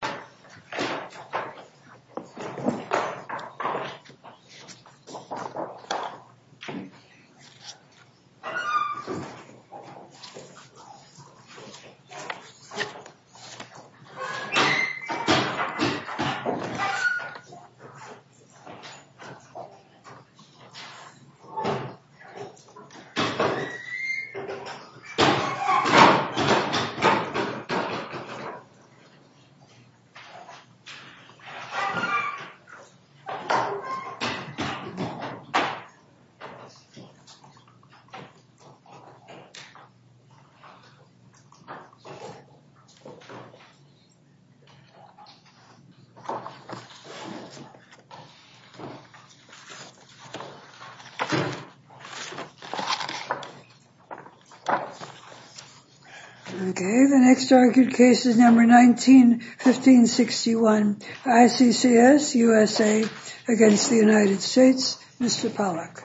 and the Cững T 哼 Corporation of the United States and Vietnam. The next argued case is number 19, 1561, ICCS, USA, against the United States. Mr. Pollack.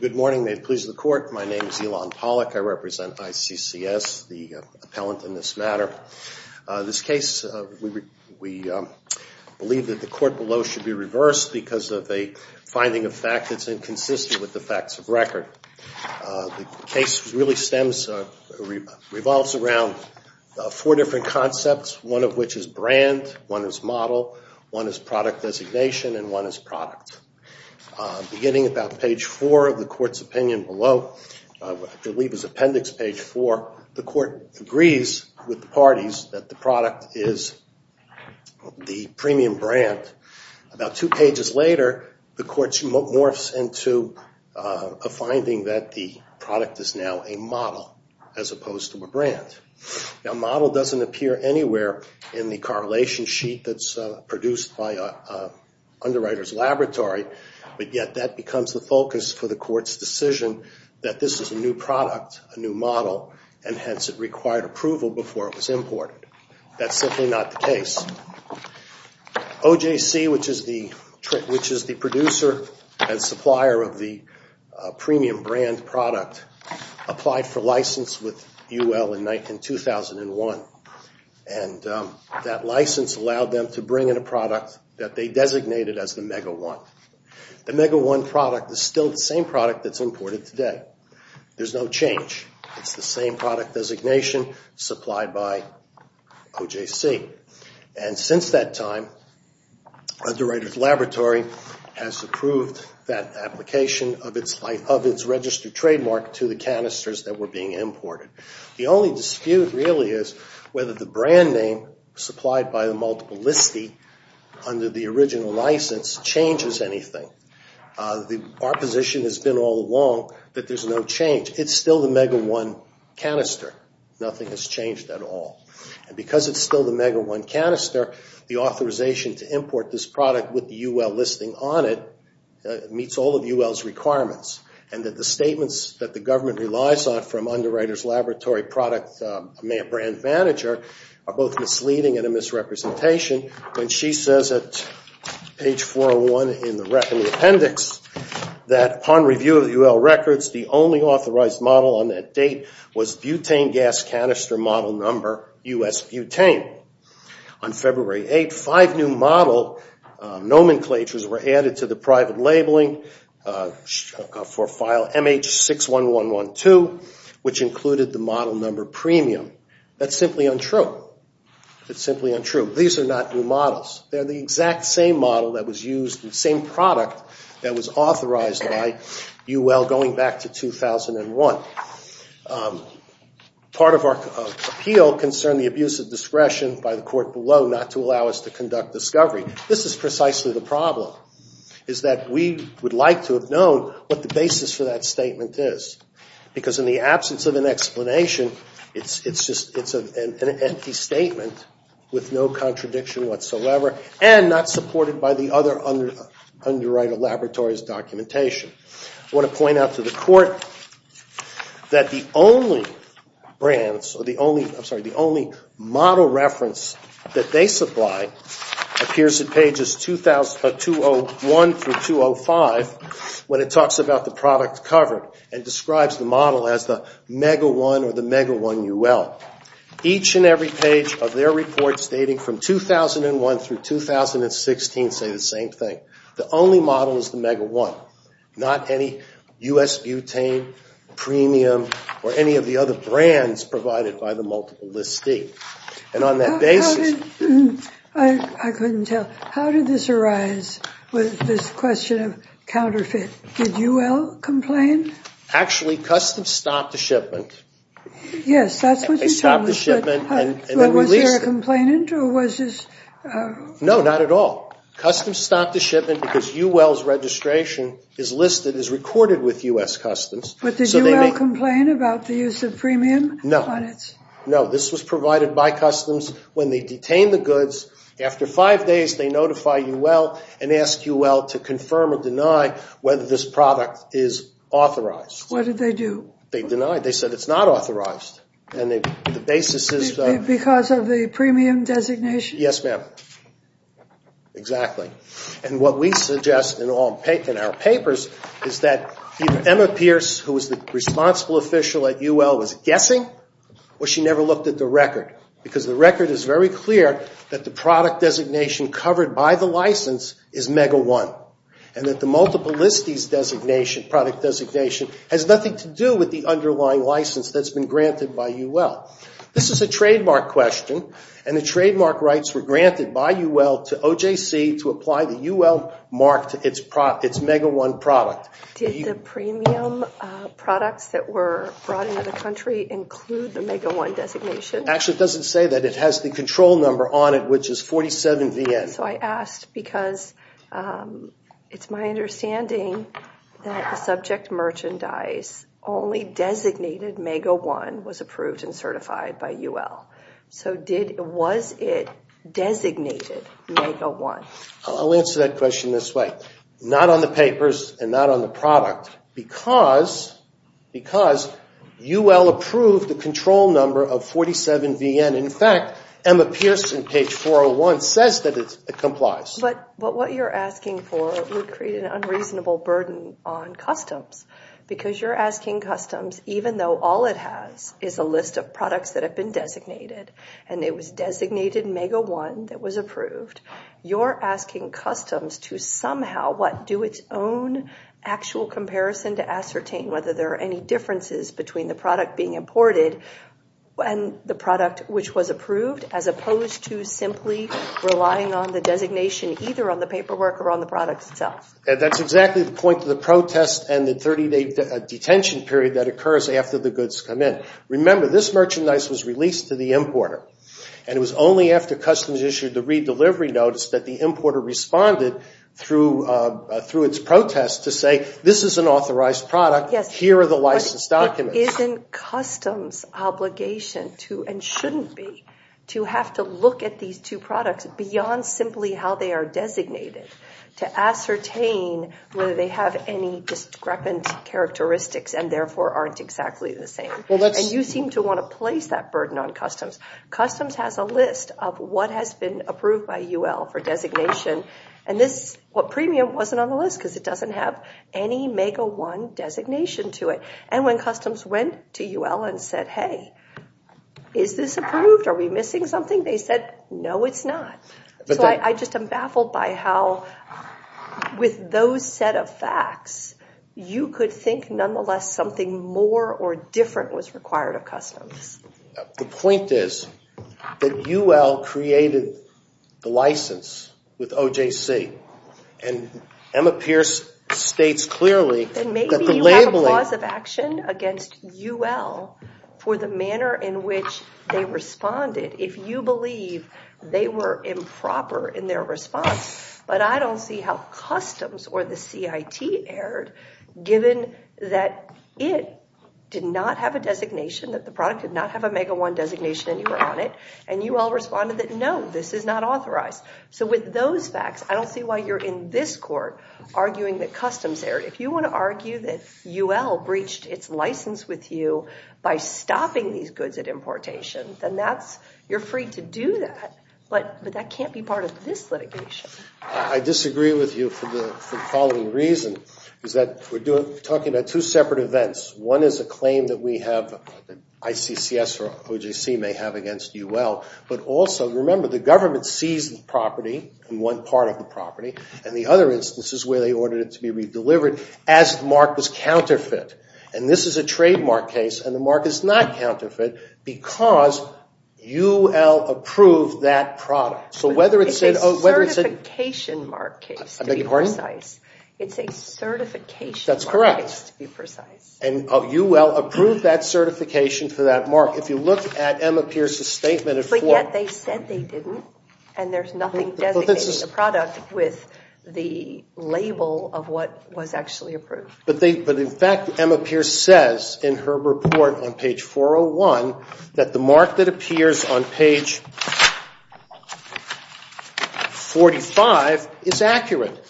Good morning. May it please the court. My name is Elon Pollack. I represent ICCS, the appellant in this matter. This case, we believe that the court below should be reversed because of a finding of fact that's inconsistent with the facts of record. The case really stems from four different concepts, one of which is brand, one is model, one is product designation, and one is product. Beginning about page 4 of the court's opinion below, I believe it's appendix page 4, the court agrees with the parties that the product is the premium brand. About two pages later, the court morphs into a finding that the product is now a model as opposed to a brand. A model doesn't appear anywhere in the correlation sheet that's produced by an underwriter's laboratory, but yet that becomes the focus for the court's decision that this is a new product, a new model, and hence it required approval before it was imported. That's simply not the case. OJC, which is the producer and supplier of the premium brand product, applied for license with UL in 2001. That license allowed them to bring in a product that they designated as the Mega One. The Mega One product is still the same product that's imported today. There's no change. It's the same product designation supplied by OJC. Since that time, underwriter's laboratory has approved that application of its registered trademark to the canisters that were being imported. The only dispute really is whether the brand name supplied by the multiple listee under the original license changes anything. Our position has been all along that there's no change. It's still the Mega One canister. Nothing has changed at all. Because it's still the Mega One canister, the authorization to import this product with the UL listing on it meets all of UL's requirements and that the statements that the government relies on from underwriter's laboratory product brand manager are both misleading and a misrepresentation when she says at page 401 in the authorized model on that date was butane gas canister model number U.S. butane. On February 8th, five new model nomenclatures were added to the private labeling for file MH61112, which included the model number premium. That's simply untrue. It's simply untrue. These are not new models. They're the exact same model that was used, the same product that was authorized by UL going back to 2001. Part of our appeal concerned the abuse of discretion by the court below not to allow us to conduct discovery. This is precisely the problem, is that we would like to have known what the basis for that statement is. Because in the absence of an explanation, it's an empty statement with no contradiction whatsoever and not supported by the other underwriter laboratory's documentation. I want to point out to the court that the only model reference that they supply appears at pages 201 through 205 when it talks about the product covered and describes the model as the mega one or the mega one UL. Each and every page of their report stating from 2001 through 2016 say the same thing. The only model is the mega one. Not any U.S. butane, premium, or any of the other brands provided by the multiple list D. And on that basis... I couldn't tell. How did this arise with this question of counterfeit? Did UL complain? Actually, Customs stopped the shipment. Yes, that's what you told me. They stopped the shipment and then released it. Was there a complainant or was this... No, not at all. Customs stopped the shipment because UL's registration is listed, is recorded with U.S. Customs. But did UL complain about the use of premium? No. No, this was provided by Customs when they detained the goods. After five days, they notify UL and ask UL to confirm or deny whether this product is authorized. What did they do? They denied. They said it's not authorized. And the basis is... Because of the premium designation? Yes, ma'am. Exactly. And what we suggest in our papers is that either Emma Pierce, who was the responsible official at UL, was guessing or she never looked at the record because the record is very clear that the product designation covered by the license is Mega One and that the multiple list D's product designation has nothing to do with the underlying license that's been granted by UL. This is a trademark question and the trademark rights were granted by UL to OJC to apply the UL mark to its Mega One product. Did the premium products that were brought into the country include the Mega One designation? Actually, it doesn't say that. It has the control number on it, which is 47VN. So I asked because it's my understanding that the subject merchandise only designated Mega One was approved and certified by UL. So was it designated Mega One? I'll answer that question this way. Not on the papers and not on the product because UL approved the control number of 47VN. In fact, Emma Pierce in page 401 says that it complies. But what you're asking for would create an unreasonable burden on customs because you're is a list of products that have been designated and it was designated Mega One that was approved. You're asking customs to somehow do its own actual comparison to ascertain whether there are any differences between the product being imported and the product which was approved as opposed to simply relying on the designation either on the paperwork or on the product itself. That's exactly the point of the protest and the 30-day detention period that occurs after the goods come in. Remember, this merchandise was released to the importer and it was only after customs issued the redelivery notice that the importer responded through its protest to say this is an authorized product. Here are the licensed documents. Isn't customs' obligation to and shouldn't be to have to look at these two products beyond simply how they are designated to ascertain whether they have any discrepant characteristics and therefore aren't exactly the same. And you seem to want to place that burden on customs. Customs has a list of what has been approved by UL for designation and this premium wasn't on the list because it doesn't have any Mega One designation to it. And when customs went to UL and said, hey, is this approved? Are we missing something? They said, no, it's not. So I just baffled by how with those set of facts, you could think nonetheless something more or different was required of customs. The point is that UL created the license with OJC and Emma Pierce states clearly that the labeling... Then maybe you have a clause of action against UL for the manner in they responded if you believe they were improper in their response. But I don't see how customs or the CIT erred given that it did not have a designation, that the product did not have a Mega One designation anywhere on it. And UL responded that, no, this is not authorized. So with those facts, I don't see why you're in this court arguing that customs erred. If you want to argue that UL breached its license with you by stopping these goods at importation, then you're free to do that. But that can't be part of this litigation. I disagree with you for the following reason. Is that we're talking about two separate events. One is a claim that we have ICCS or OJC may have against UL. But also remember the government seized the property and one part of the property. And the other instance is where they ordered it to be redelivered as the mark was counterfeit. And this is a trademark case and the mark is not counterfeit because UL approved that product. So whether it's a certification mark case, to be precise. It's a certification mark case, to be precise. And UL approved that certification for that mark. If you look at Emma Pierce's statement. But yet they said they didn't. And there's nothing a product with the label of what was actually approved. But in fact, Emma Pierce says in her report on page 401 that the mark that appears on page 45 is accurate.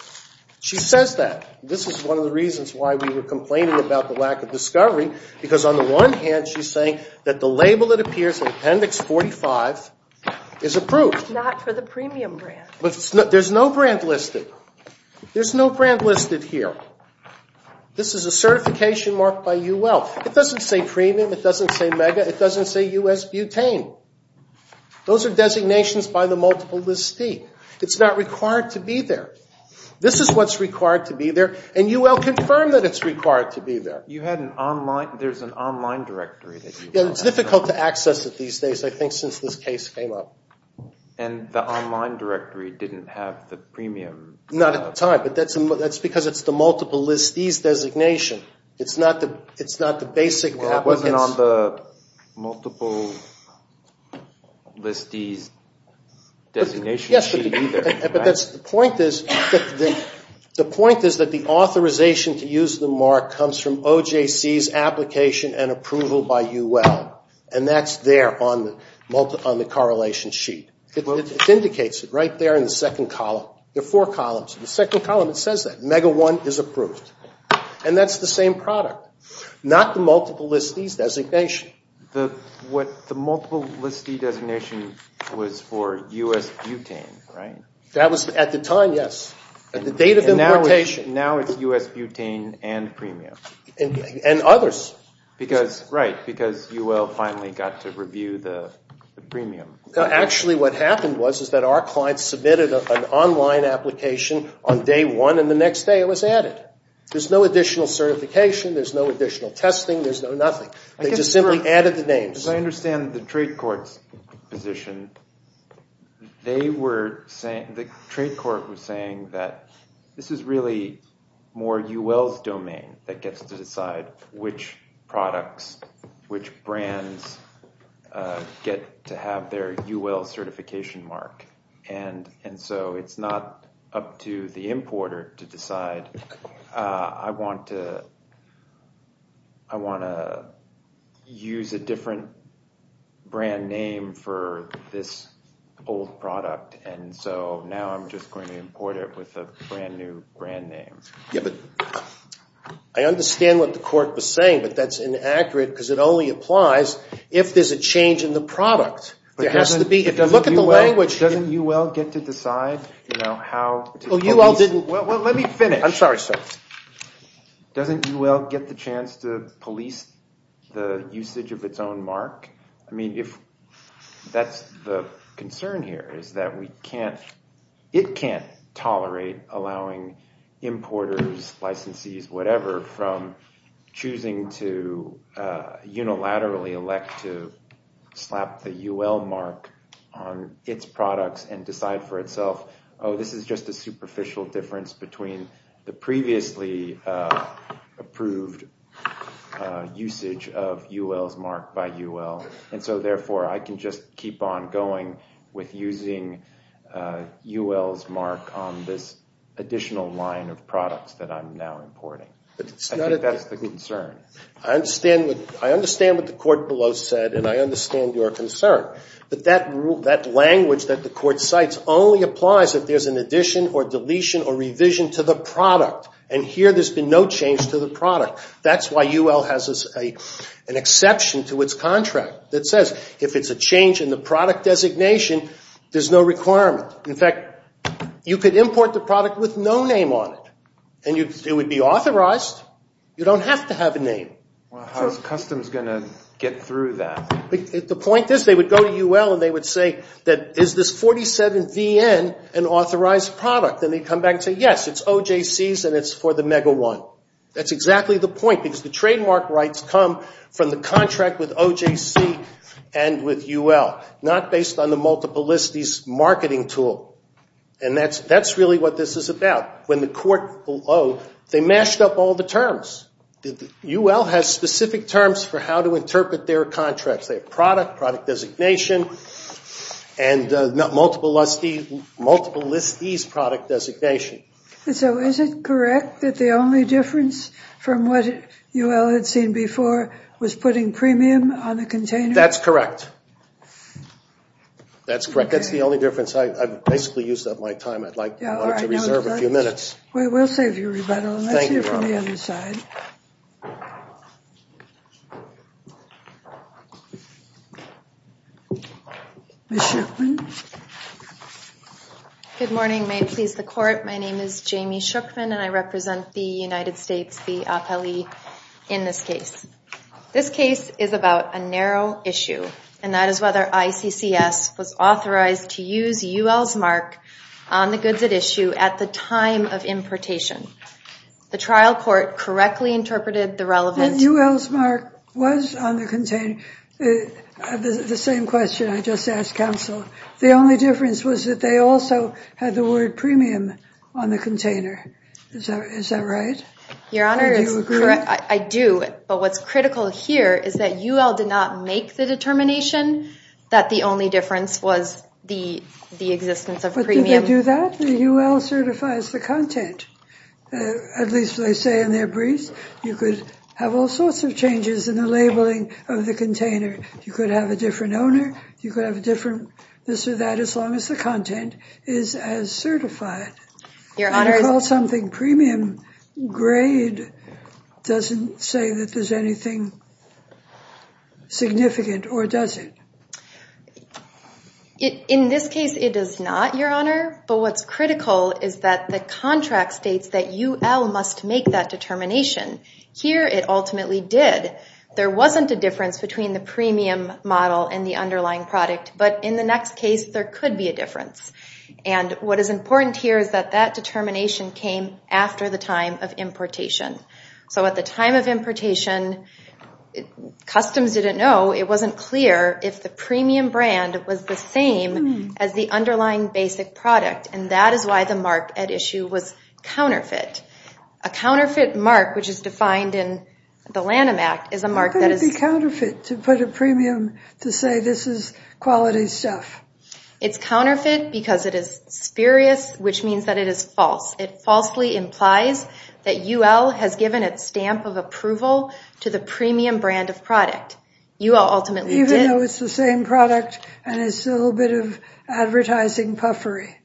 She says that. This is one of the reasons why we were complaining about the lack of discovery. Because on the one hand, she's saying that the label that appears in appendix 45 is approved. Not for the premium brand. There's no brand listed. There's no brand listed here. This is a certification mark by UL. It doesn't say premium. It doesn't say mega. It doesn't say U.S. butane. Those are designations by the multiple listee. It's not required to be there. This is what's required to be there. And UL confirmed that it's required to be there. You had an online. There's an online directory. It's difficult to access it these days. I think since this case came up. And the online directory didn't have the premium. Not at the time. But that's because it's the multiple listee's designation. It's not the basic applicants. It wasn't on the multiple listee's designation sheet either. Yes, but the point is that the authorization to use the mark comes from OJC's application and approval by UL. And that's there on the correlation sheet. It indicates it right there in the second column. There are four columns. In the second column it says that. Mega one is approved. And that's the same product. Not the multiple listee's designation. The multiple listee designation was for U.S. butane, right? That was at the time, yes. At the date of importation. Now it's U.S. butane and premium. And others. Because UL finally got to review the premium. Actually what happened was that our client submitted an online application on day one and the next day it was added. There's no additional certification. There's no additional testing. There's no nothing. They just simply added the names. As I understand the trade court's position, the trade court was saying that this is really more UL's domain that gets to decide which products, which brands get to have their UL certification mark. And so it's not up to the importer to decide I want to use a different brand name for this old product. And so now I'm just going to import it with a brand new brand name. I understand what the court was saying, but that's inaccurate because it only applies if there's a change in the product. Doesn't UL get to decide? Let me finish. I'm sorry sir. Doesn't UL get the chance to police the usage of its own mark? I mean if that's the concern here is that we can't, it can't tolerate allowing importers, licensees, whatever from choosing to unilaterally elect to slap the UL mark on its products and decide for itself, oh this is just a superficial difference between the previously approved usage of UL's mark by UL. And so therefore I can just keep on going with using UL's mark on this additional line of products that I'm now importing. I think that's the concern. I understand what the court below said and I understand your concern. But that rule, that language that the court cites only applies if there's an addition or deletion or revision to the product. And here there's been no change to the product. That's why UL has an exception to its contract that says if it's a change in the product designation, there's no requirement. In fact, you could import the product with no name on it and it would be authorized. You don't have to have a name. How's customs going to get through that? The point is they would go to UL and they would say that is this 47VN an authorized product? And they'd come back and say yes, it's OJC's and it's for the Mega One. That's exactly the point because the trademark rights come from the contract with OJC and with UL, not based on the multiplicity's marketing tool. And that's really what this is about. When the court below, they mashed up all the terms. UL has specific terms for how to interpret their contracts. They have product, product designation, and multiplicity's product designation. So is it correct that the only difference from what UL had seen before was putting premium on a container? That's correct. That's correct. That's the only difference. I've basically used up my time. I'd like to reserve a few minutes. We'll save you rebuttal. Let's hear from the other side. Ms. Schuchman. Good morning. May it please the court. My name is Jamie Schuchman and I represent the United States, the appellee in this case. This case is about a narrow issue and that is whether ICCS was authorized to use UL's mark on the goods at issue at the time of importation. The trial court correctly interpreted the relevant... UL's mark was on the container. The same question I just asked counsel. The only difference was that they also had the word premium on the container. Is that right? Your Honor, I do. But what's critical here is that UL did not make the determination that the only difference was the existence of premium. But at least they say in their briefs, you could have all sorts of changes in the labeling of the container. You could have a different owner. You could have a different this or that as long as the content is as certified. Your Honor... When you call something premium, grade doesn't say that there's anything significant or does it? In this case, it is not, Your Honor. But what's important here is that UL must make that determination. Here it ultimately did. There wasn't a difference between the premium model and the underlying product. But in the next case, there could be a difference. And what is important here is that that determination came after the time of importation. So at the time of importation, customs didn't know, it wasn't clear if the premium brand was the same as the underlying basic product. And that is why the mark at issue was counterfeit. A counterfeit mark, which is defined in the Lanham Act, is a mark that is... How could it be counterfeit to put a premium to say this is quality stuff? It's counterfeit because it is spurious, which means that it is false. It falsely implies that UL has given its stamp of approval to the premium brand of product. UL ultimately did. Even though it's the same product and it's a little bit of advertising puffery.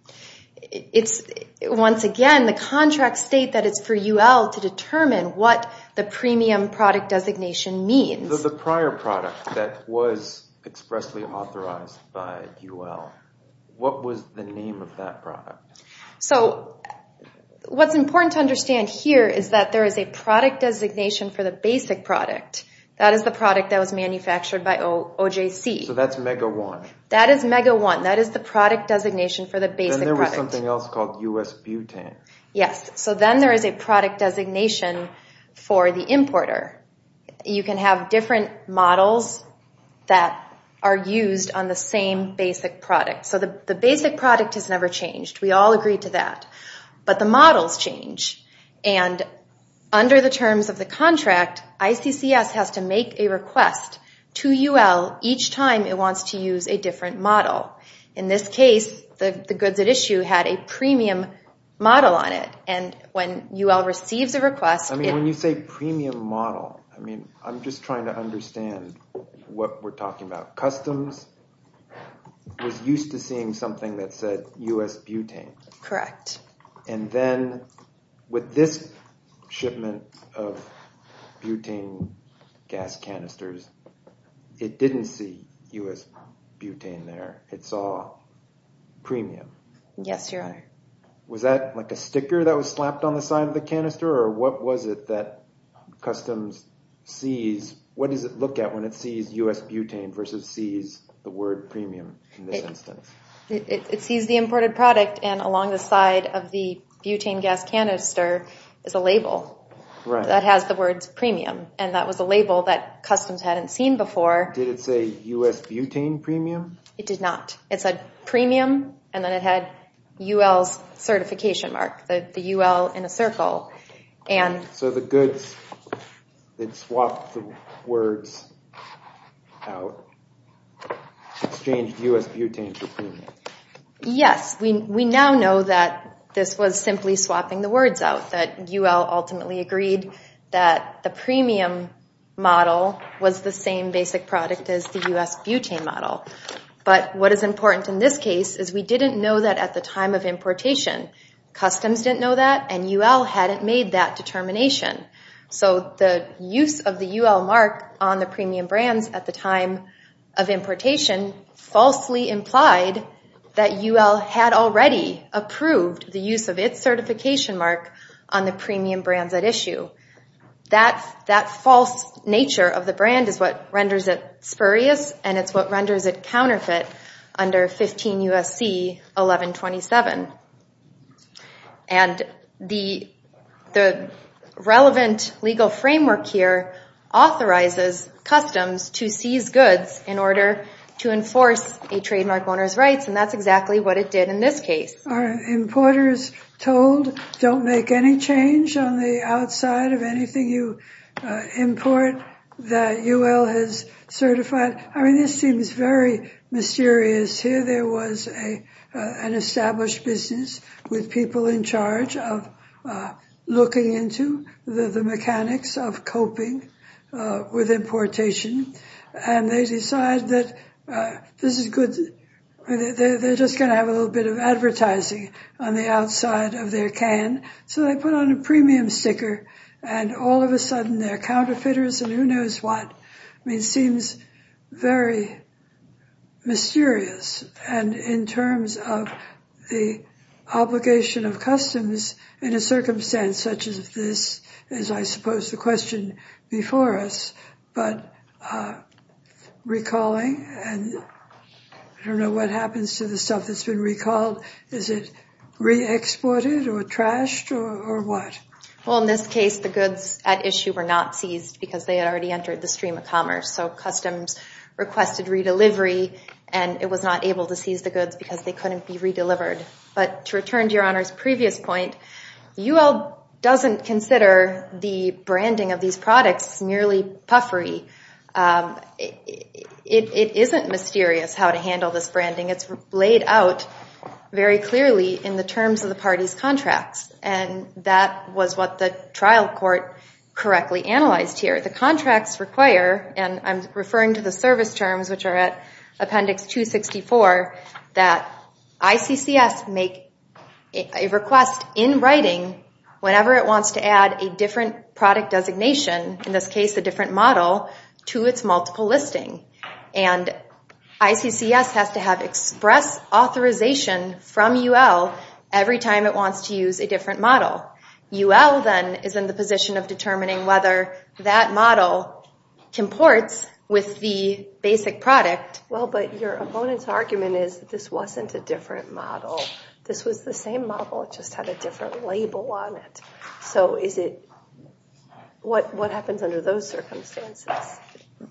It's, once again, the contracts state that it's for UL to determine what the premium product designation means. So the prior product that was expressly authorized by UL, what was the name of that product? So what's important to understand here is that there is a product designation for the basic product. That is the product that was manufactured by OJC. That's MEGA-1. That is MEGA-1. That is the product designation for the basic product. Then there was something else called U.S. Butane. Yes. So then there is a product designation for the importer. You can have different models that are used on the same basic product. So the basic product has never changed. We all agree to that. But the models change. And under the terms of the contract, ICCS has to make a request to UL each time it wants to use a different model. In this case, the goods at issue had a premium model on it. And when UL receives a request... I mean, when you say premium model, I mean, I'm just trying to understand what we're talking about. Customs was used to seeing something that said U.S. Butane. Correct. And then with this shipment of butane gas canisters, it didn't see U.S. Butane there. It saw premium. Yes, Your Honor. Was that like a sticker that was slapped on the side of the canister? Or what was it that Customs sees... What does it look at when it sees U.S. Butane versus sees the word premium in this instance? It sees the imported product. And along the side of the butane gas canister is a label that has the words premium. And that was a label that Customs hadn't seen before. Did it say U.S. Butane premium? It did not. It said premium, and then it had UL's certification mark, the UL in a circle. So the goods that swapped the words out exchanged U.S. Butane for premium. Yes, we now know that this was simply swapping the words out, that UL ultimately agreed that the premium model was the same basic product as the U.S. Butane model. But what is important in this case is we didn't know that at the time of importation. Customs didn't know that, and UL hadn't made that determination. So the use of the UL mark on the premium brands at the time of importation falsely implied that UL had already approved the use of its certification mark on the premium brands at issue. That false nature of the brand is what renders it spurious, and it's what renders it counterfeit under 15 U.S.C. 1127. And the relevant legal framework here authorizes customs to seize goods in order to enforce a trademark owner's rights, and that's exactly what it did in this case. Are importers told don't make any change on the outside of anything you import that UL has certified? I mean, this seems very mysterious. Here there was an established business with people in charge of looking into the mechanics of coping with importation, and they decide that this is good. They're just going to have a little bit of advertising on the outside of their can. So they put on a premium sticker, and all of a sudden it's mysterious. And in terms of the obligation of customs in a circumstance such as this is, I suppose, the question before us. But recalling, and I don't know what happens to the stuff that's been recalled. Is it re-exported or trashed or what? Well, in this case the goods at issue were not seized because they had already entered the stream of commerce. So customs requested re-delivery, and it was not able to seize the goods because they couldn't be re-delivered. But to return to your honor's previous point, UL doesn't consider the branding of these products merely puffery. It isn't mysterious how to handle this branding. It's laid out very clearly in the terms of the party's contracts, and that was what the trial court correctly analyzed here. The contracts require, and I'm referring to the service terms which are at appendix 264, that ICCS make a request in writing whenever it wants to add a different product designation, in this case a different model, to its multiple listing. And ICCS has to have express authorization from UL every time it wants to use a different model. UL then is in the process of determining whether that model comports with the basic product. Well, but your opponent's argument is that this wasn't a different model. This was the same model, it just had a different label on it. So what happens under those circumstances?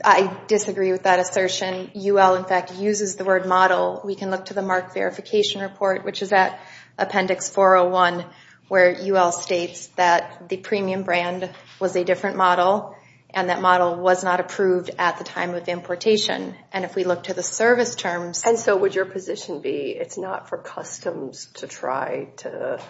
I disagree with that assertion. UL in fact uses the word model. We can look to the mark verification report, which is at appendix 401, where UL states that the premium brand was a different model, and that model was not approved at the time of importation. And if we look to the service terms... And so would your position be, it's not for customs to try to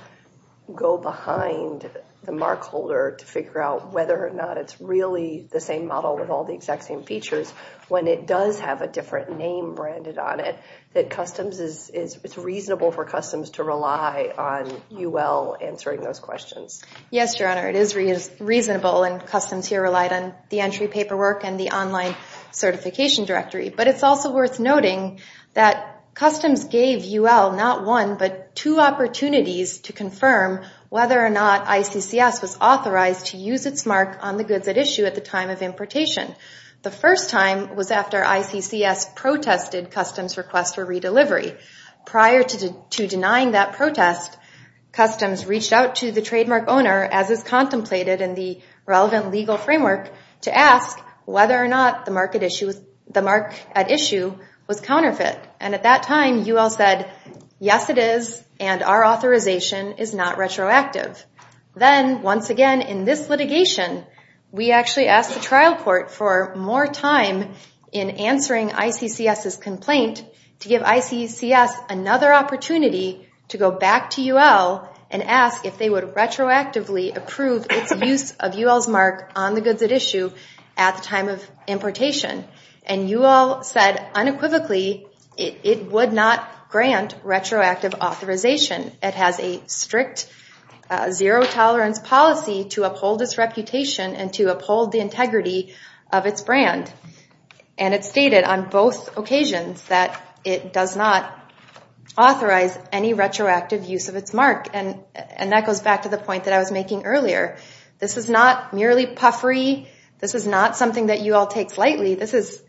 go behind the mark holder to figure out whether or not it's really the same model with all the exact same features, when it does have a different name branded on it, that it's reasonable for customs to rely on UL answering those questions? Yes, Your Honor, it is reasonable and customs here relied on the entry paperwork and the online certification directory. But it's also worth noting that customs gave UL not one, but two opportunities to confirm whether or not ICCS was authorized to use its mark on the goods at issue at the time of importation. The first time was after ICCS protested customs request for redelivery. Prior to denying that protest, customs reached out to the trademark owner, as is contemplated in the relevant legal framework, to ask whether or not the mark at issue was counterfeit. And at that time, UL said, yes it is, and our authorization is not retroactive. Then once again in this litigation, we actually asked the trial court for more time in answering ICCS's complaint to give ICCS another opportunity to go back to UL and ask if they would retroactively approve its use of UL's mark on the goods at issue at the time of importation. And UL said unequivocally it would not grant retroactive authorization. It has a strict zero tolerance policy to uphold its reputation and to uphold the integrity of its brand. And it stated on both occasions that it does not authorize any retroactive use of its mark. And that goes back to the point that I was making earlier. This is not merely puffery. This is not something that UL takes lightly. This is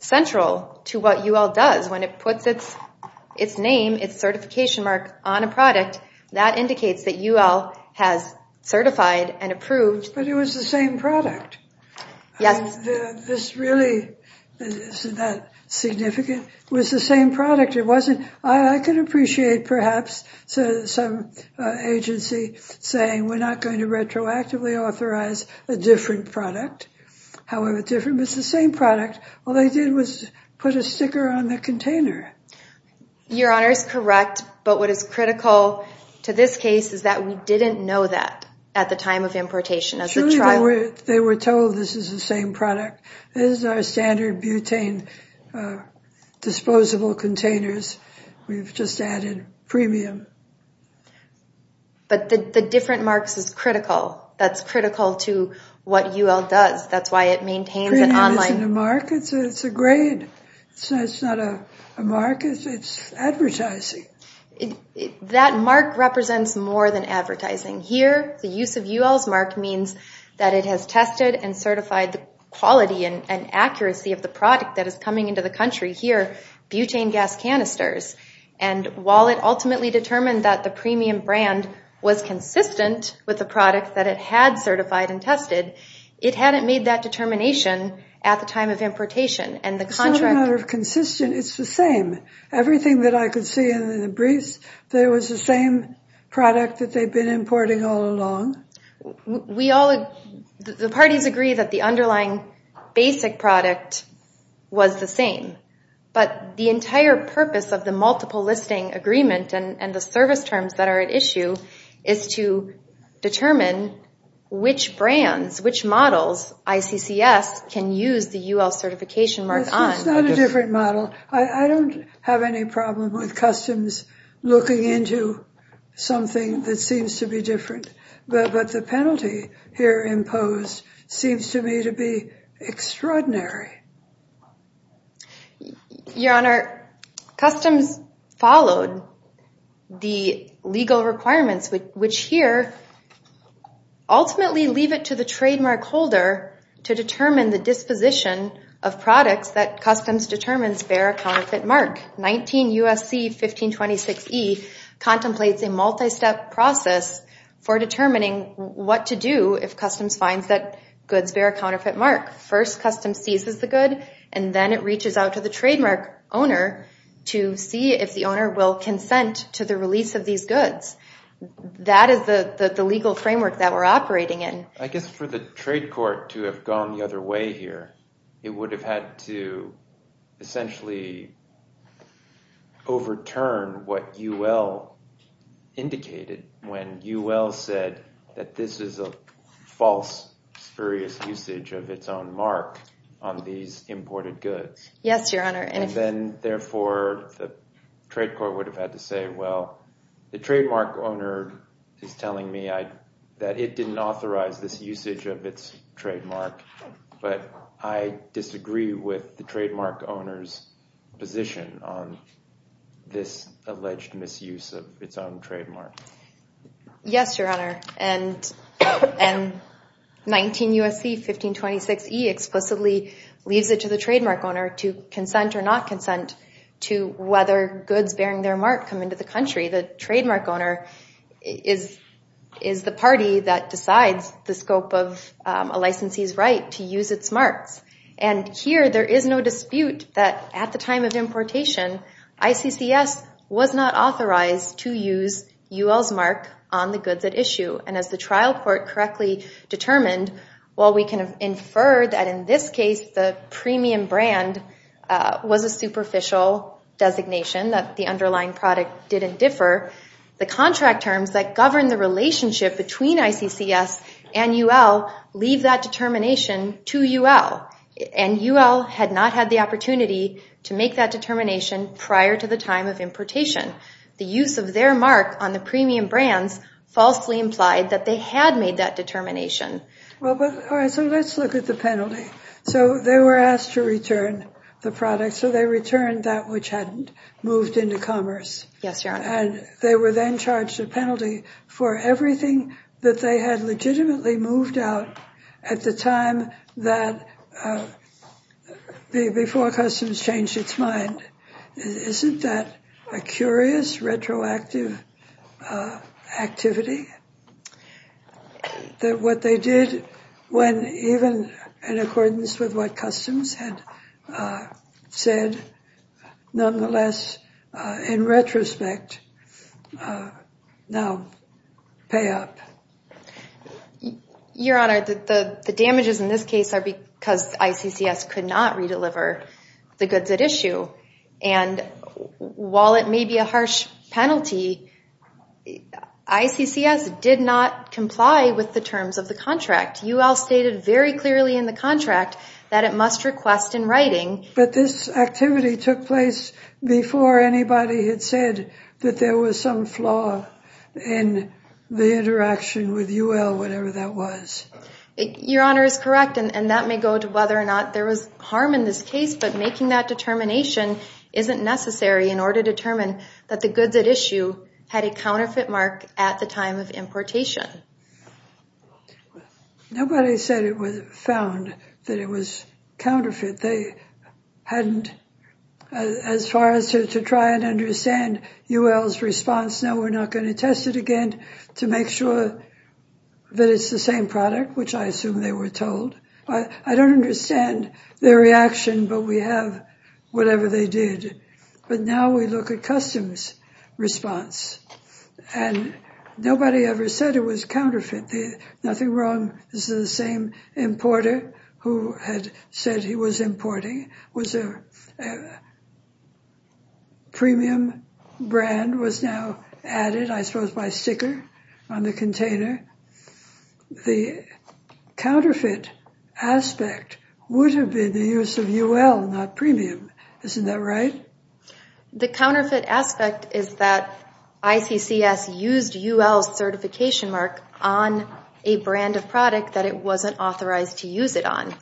central to what UL does when it puts its name, its certification mark, on a product that indicates that UL has certified and approved. But it was the same product. Yes. This really isn't that significant. It was the same product. I could appreciate perhaps some agency saying we're not going to retroactively authorize a different product, however different, but it's the same product. All they did was put a different container. Your Honor is correct, but what is critical to this case is that we didn't know that at the time of importation. They were told this is the same product. This is our standard butane disposable containers. We've just added premium. But the different marks is critical. That's critical to what UL does. That's why it maintains it online. Premium isn't a mark. It's a grade. It's not a mark. It's advertising. That mark represents more than advertising. Here, the use of UL's mark means that it has tested and certified the quality and accuracy of the product that is coming into the country. Here, butane gas canisters. While it ultimately determined that the premium brand was consistent with the product that it had certified and tested, it hadn't made that consistent. It's the same. Everything that I could see in the briefs, that it was the same product that they've been importing all along. The parties agree that the underlying basic product was the same, but the entire purpose of the multiple listing agreement and the service terms that are at issue is to determine which brands, which models, ICCS can use the UL certification mark on. It's not a different model. I don't have any problem with customs looking into something that seems to be different, but the penalty here imposed seems to me to be extraordinary. Your Honor, customs followed the legal requirements, which here ultimately leave it to the trademark holder to determine the disposition of products that customs determines bear a counterfeit mark. 19 U.S.C. 1526E contemplates a multi-step process for determining what to do if customs finds that goods bear a counterfeit mark. First, customs seizes the good, and then it reaches out to the trademark owner to see if the owner will consent to the release of these goods. That is the legal framework that we're operating in. I guess for the trade court to have gone the other way here, it would have had to essentially overturn what UL indicated when UL said that this is a false spurious usage of its own mark on these imported goods. Yes, Your Honor. And then, therefore, the trade court would have had to say, well, the trademark owner is telling me that it didn't authorize this usage of its trademark, but I disagree with the trademark owner's position on this alleged misuse of its own trademark. Yes, Your Honor. And 19 U.S.C. 1526E explicitly leaves it to the trademark owner to consent or not consent to whether goods bearing their mark come into the country. The trademark owner is the party that decides the scope of a licensee's right to use its marks. And here, there is no dispute that at the time of importation, ICCS was not authorized to use UL's mark on the goods at issue. And as the trial court correctly determined, while we can infer that in this case the premium brand was a superficial designation, that the underlying product didn't differ, the contract terms that govern the relationship between ICCS and UL leave that determination to UL. And UL had not had the to make that determination prior to the time of importation. The use of their mark on the premium brands falsely implied that they had made that determination. Well, but all right, so let's look at the penalty. So they were asked to return the product, so they returned that which hadn't moved into commerce. Yes, Your Honor. And they were then charged a penalty for everything that they had done. Now, Customs changed its mind. Isn't that a curious retroactive activity, that what they did when even in accordance with what Customs had said, nonetheless, in retrospect, now pay up? Your Honor, the damages in this case are because ICCS could not redeliver the goods at issue. And while it may be a harsh penalty, ICCS did not comply with the terms of the contract. UL stated very clearly in the contract that it must request in writing. But this activity took place before anybody had said that there was some flaw in the interaction with UL, whatever that was. Your Honor is correct. And that may go to whether or not there was harm in this case. But making that determination isn't necessary in order to determine that the goods at issue had a counterfeit mark at the time of importation. Nobody said it was found that it was counterfeit. They hadn't, as far as to try and understand UL's response, no, we're not going to test it again to make sure that it's the same product, which I assume they were told. I don't understand their reaction, but we have whatever they did. But now we look at Customs' response. And nobody ever said it was counterfeit. Nothing wrong. This is the same importer who had said he was importing was a premium brand was now added, I suppose, by sticker on the container. The counterfeit aspect would have been the use of UL, not premium. Isn't that right? The counterfeit aspect is that ICCS used UL's certification mark on a brand of product that it wasn't authorized to use it on.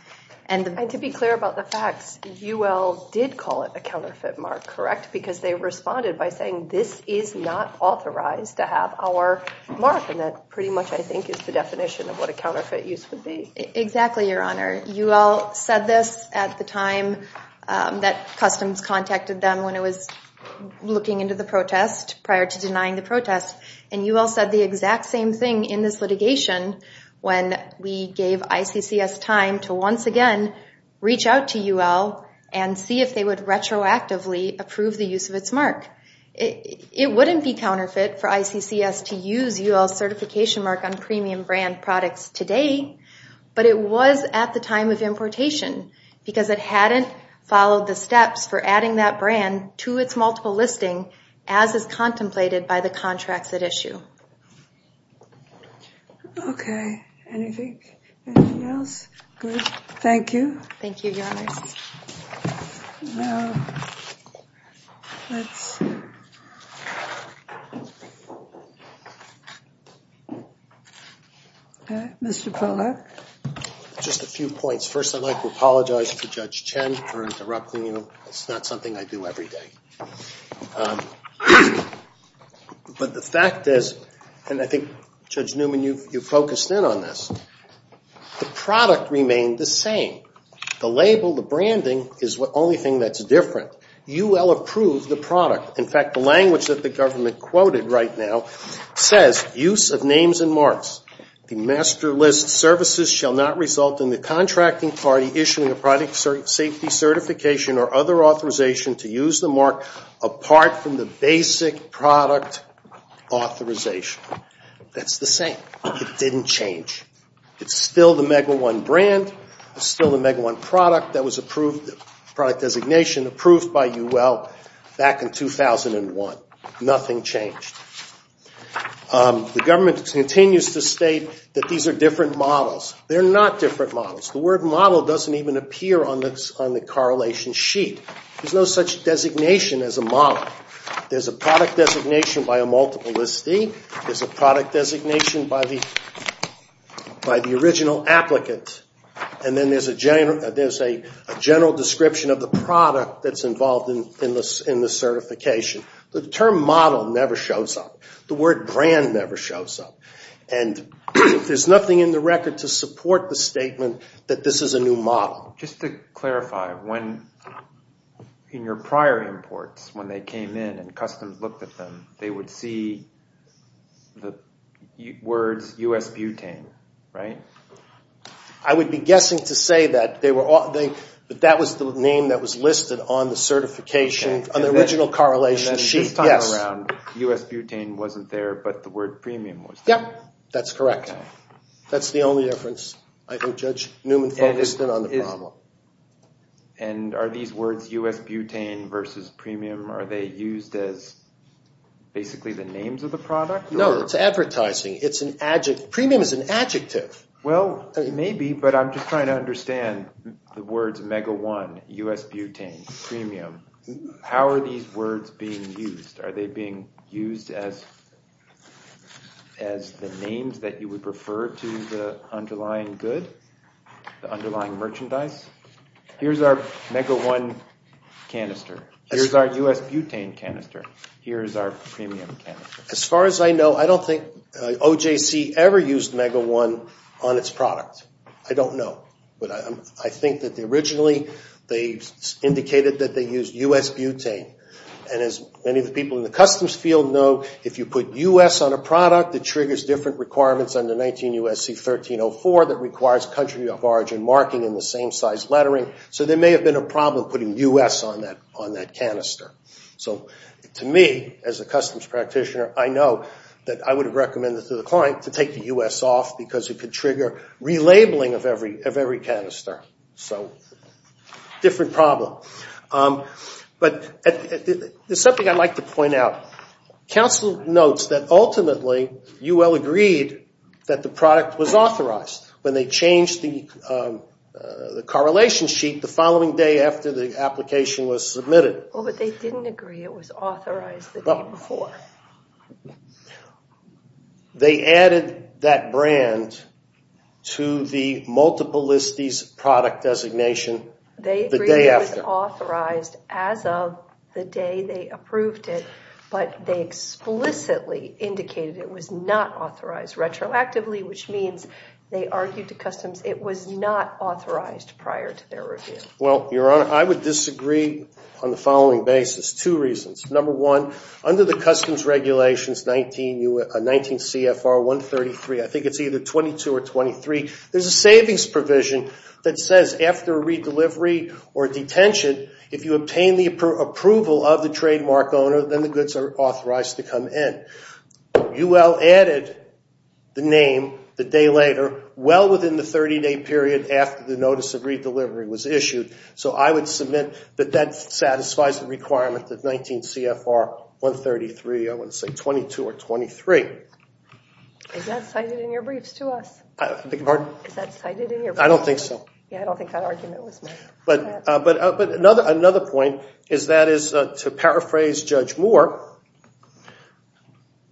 And to be clear about the facts, UL did call it a counterfeit mark, correct? Because they responded by saying this is not authorized to have our mark. And that pretty much, I think, is the definition of what a counterfeit use would be. Exactly, Your Honor. UL said this at the time that Customs contacted them when it was looking into the protest, prior to denying the protest. And UL said the exact same thing in this litigation when we gave ICCS time to once again reach out to UL and see if they would retroactively approve the use of its mark. It wouldn't be counterfeit for ICCS to use UL's certification mark on premium products today, but it was at the time of importation because it hadn't followed the steps for adding that brand to its multiple listing as is contemplated by the contracts at issue. Okay. Anything else? Good. Thank you. Thank you, Your Honor. Mr. Pollack? Just a few points. First, I'd like to apologize to Judge Chen for interrupting. It's not something I do every day. But the fact is, and I think, Judge Newman, you focused in on this, the product remained the same. The label, the branding is the only thing that's different. UL approved the product. In fact, the language that the government quoted right now says, use of names and marks. The master list services shall not result in the contracting party issuing a product safety certification or other authorization to use the mark apart from the basic product authorization. That's the same. It didn't change. It's still the Mega One brand. It's still the Mega One product that was approved, product designation approved by UL back in 2001. Nothing changed. The government continues to state that these are different models. They're not different models. The word model doesn't even appear on the correlation sheet. There's no such designation as a model. There's a product designation by a multiple listing. There's a product designation by the original applicant. And then there's a general description of the product that's involved in the certification. The term model never shows up. The word brand never shows up. And there's nothing in the record to support the statement that this is a new model. Just to clarify, in your prior imports, when they came in and customs looked at them, they would see the words U.S. butane, right? I would be guessing to say that that was the name that was listed on the certification, on the original correlation sheet. And this time around, U.S. butane wasn't there, but the word premium was there. Yep, that's correct. That's the only difference. I think Judge Newman focused in on the problem. And are these words U.S. butane versus premium, are they used as basically the names of the product? No, it's advertising. Premium is an adjective. Well, maybe, but I'm just trying to understand the words Mega One, U.S. butane, premium. How are these words being used? Are they being used as the names that you would prefer to the underlying good, the underlying merchandise? Here's our Mega One canister. Here's our U.S. butane canister. Here's our premium canister. As far as I know, I don't think OJC ever used Mega One on its product. I don't know. But I think that originally they indicated that they used U.S. butane. And as many of the people in the customs field know, if you put U.S. on a product, it triggers different requirements under 19 U.S.C. 1304 that requires country of origin marking and the same size lettering. So there may have been a problem putting U.S. on that canister. So to me, as a customs practitioner, I know that I would have recommended to the client to take the U.S. off because it could trigger relabeling of every canister. So different problem. But there's something I'd like to point out. Council notes that ultimately UL agreed that the product was authorized when they changed the correlation sheet the following day after the application was submitted. But they didn't agree it was authorized the day before. They added that brand to the multiple listies product designation the day after. They agreed it was authorized as of the day they approved it. But they explicitly indicated it was not authorized retroactively, which means they argued to customs it was not authorized prior to their review. Well, Your Honor, I would disagree on the following basis. Two reasons. Number one, under the customs regulations 19 CFR 133, I think it's either 22 or 23, there's a savings provision that says after a redelivery or detention, if you obtain the approval of the trademark owner, then the goods are authorized to come in. UL added the name the day later, well within the 30-day period after the notice of So I would submit that that satisfies the requirement that 19 CFR 133, I would say 22 or 23. Is that cited in your briefs to us? I beg your pardon? Is that cited in your briefs? I don't think so. Yeah, I don't think that argument was made. But another point is that is to paraphrase Judge Moore,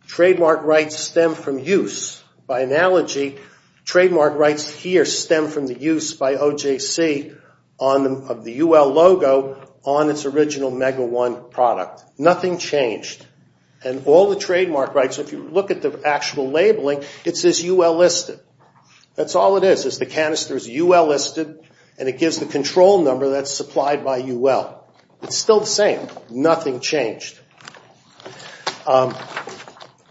trademark rights stem from use. By analogy, trademark rights here stem from the use by OJC of the UL logo on its original Mega One product. Nothing changed. And all the trademark rights, if you look at the actual labeling, it says UL listed. That's all it is, is the canister is UL listed, and it gives the control number that's supplied by UL. It's still the same. Nothing changed. I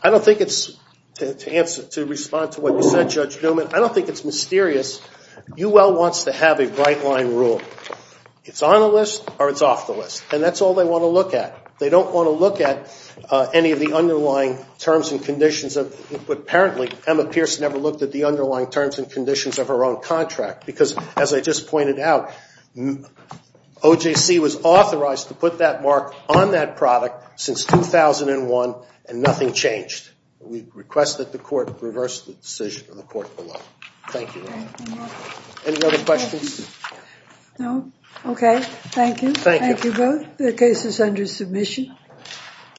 don't think it's, to answer, to respond to what you said, Judge Newman, I don't think it's mysterious. UL wants to have a right-line rule. It's on the list, or it's off the list. And that's all they want to look at. They don't want to look at any of the underlying terms and conditions of, apparently, Emma Pierce never looked at the underlying terms and conditions of her own contract. Because, as I just pointed out, OJC was authorized to put that mark on that product, since 2001, and nothing changed. We request that the court reverse the decision of the court below. Thank you. Any other questions? No. Okay. Thank you. Thank you both. The case is under submission.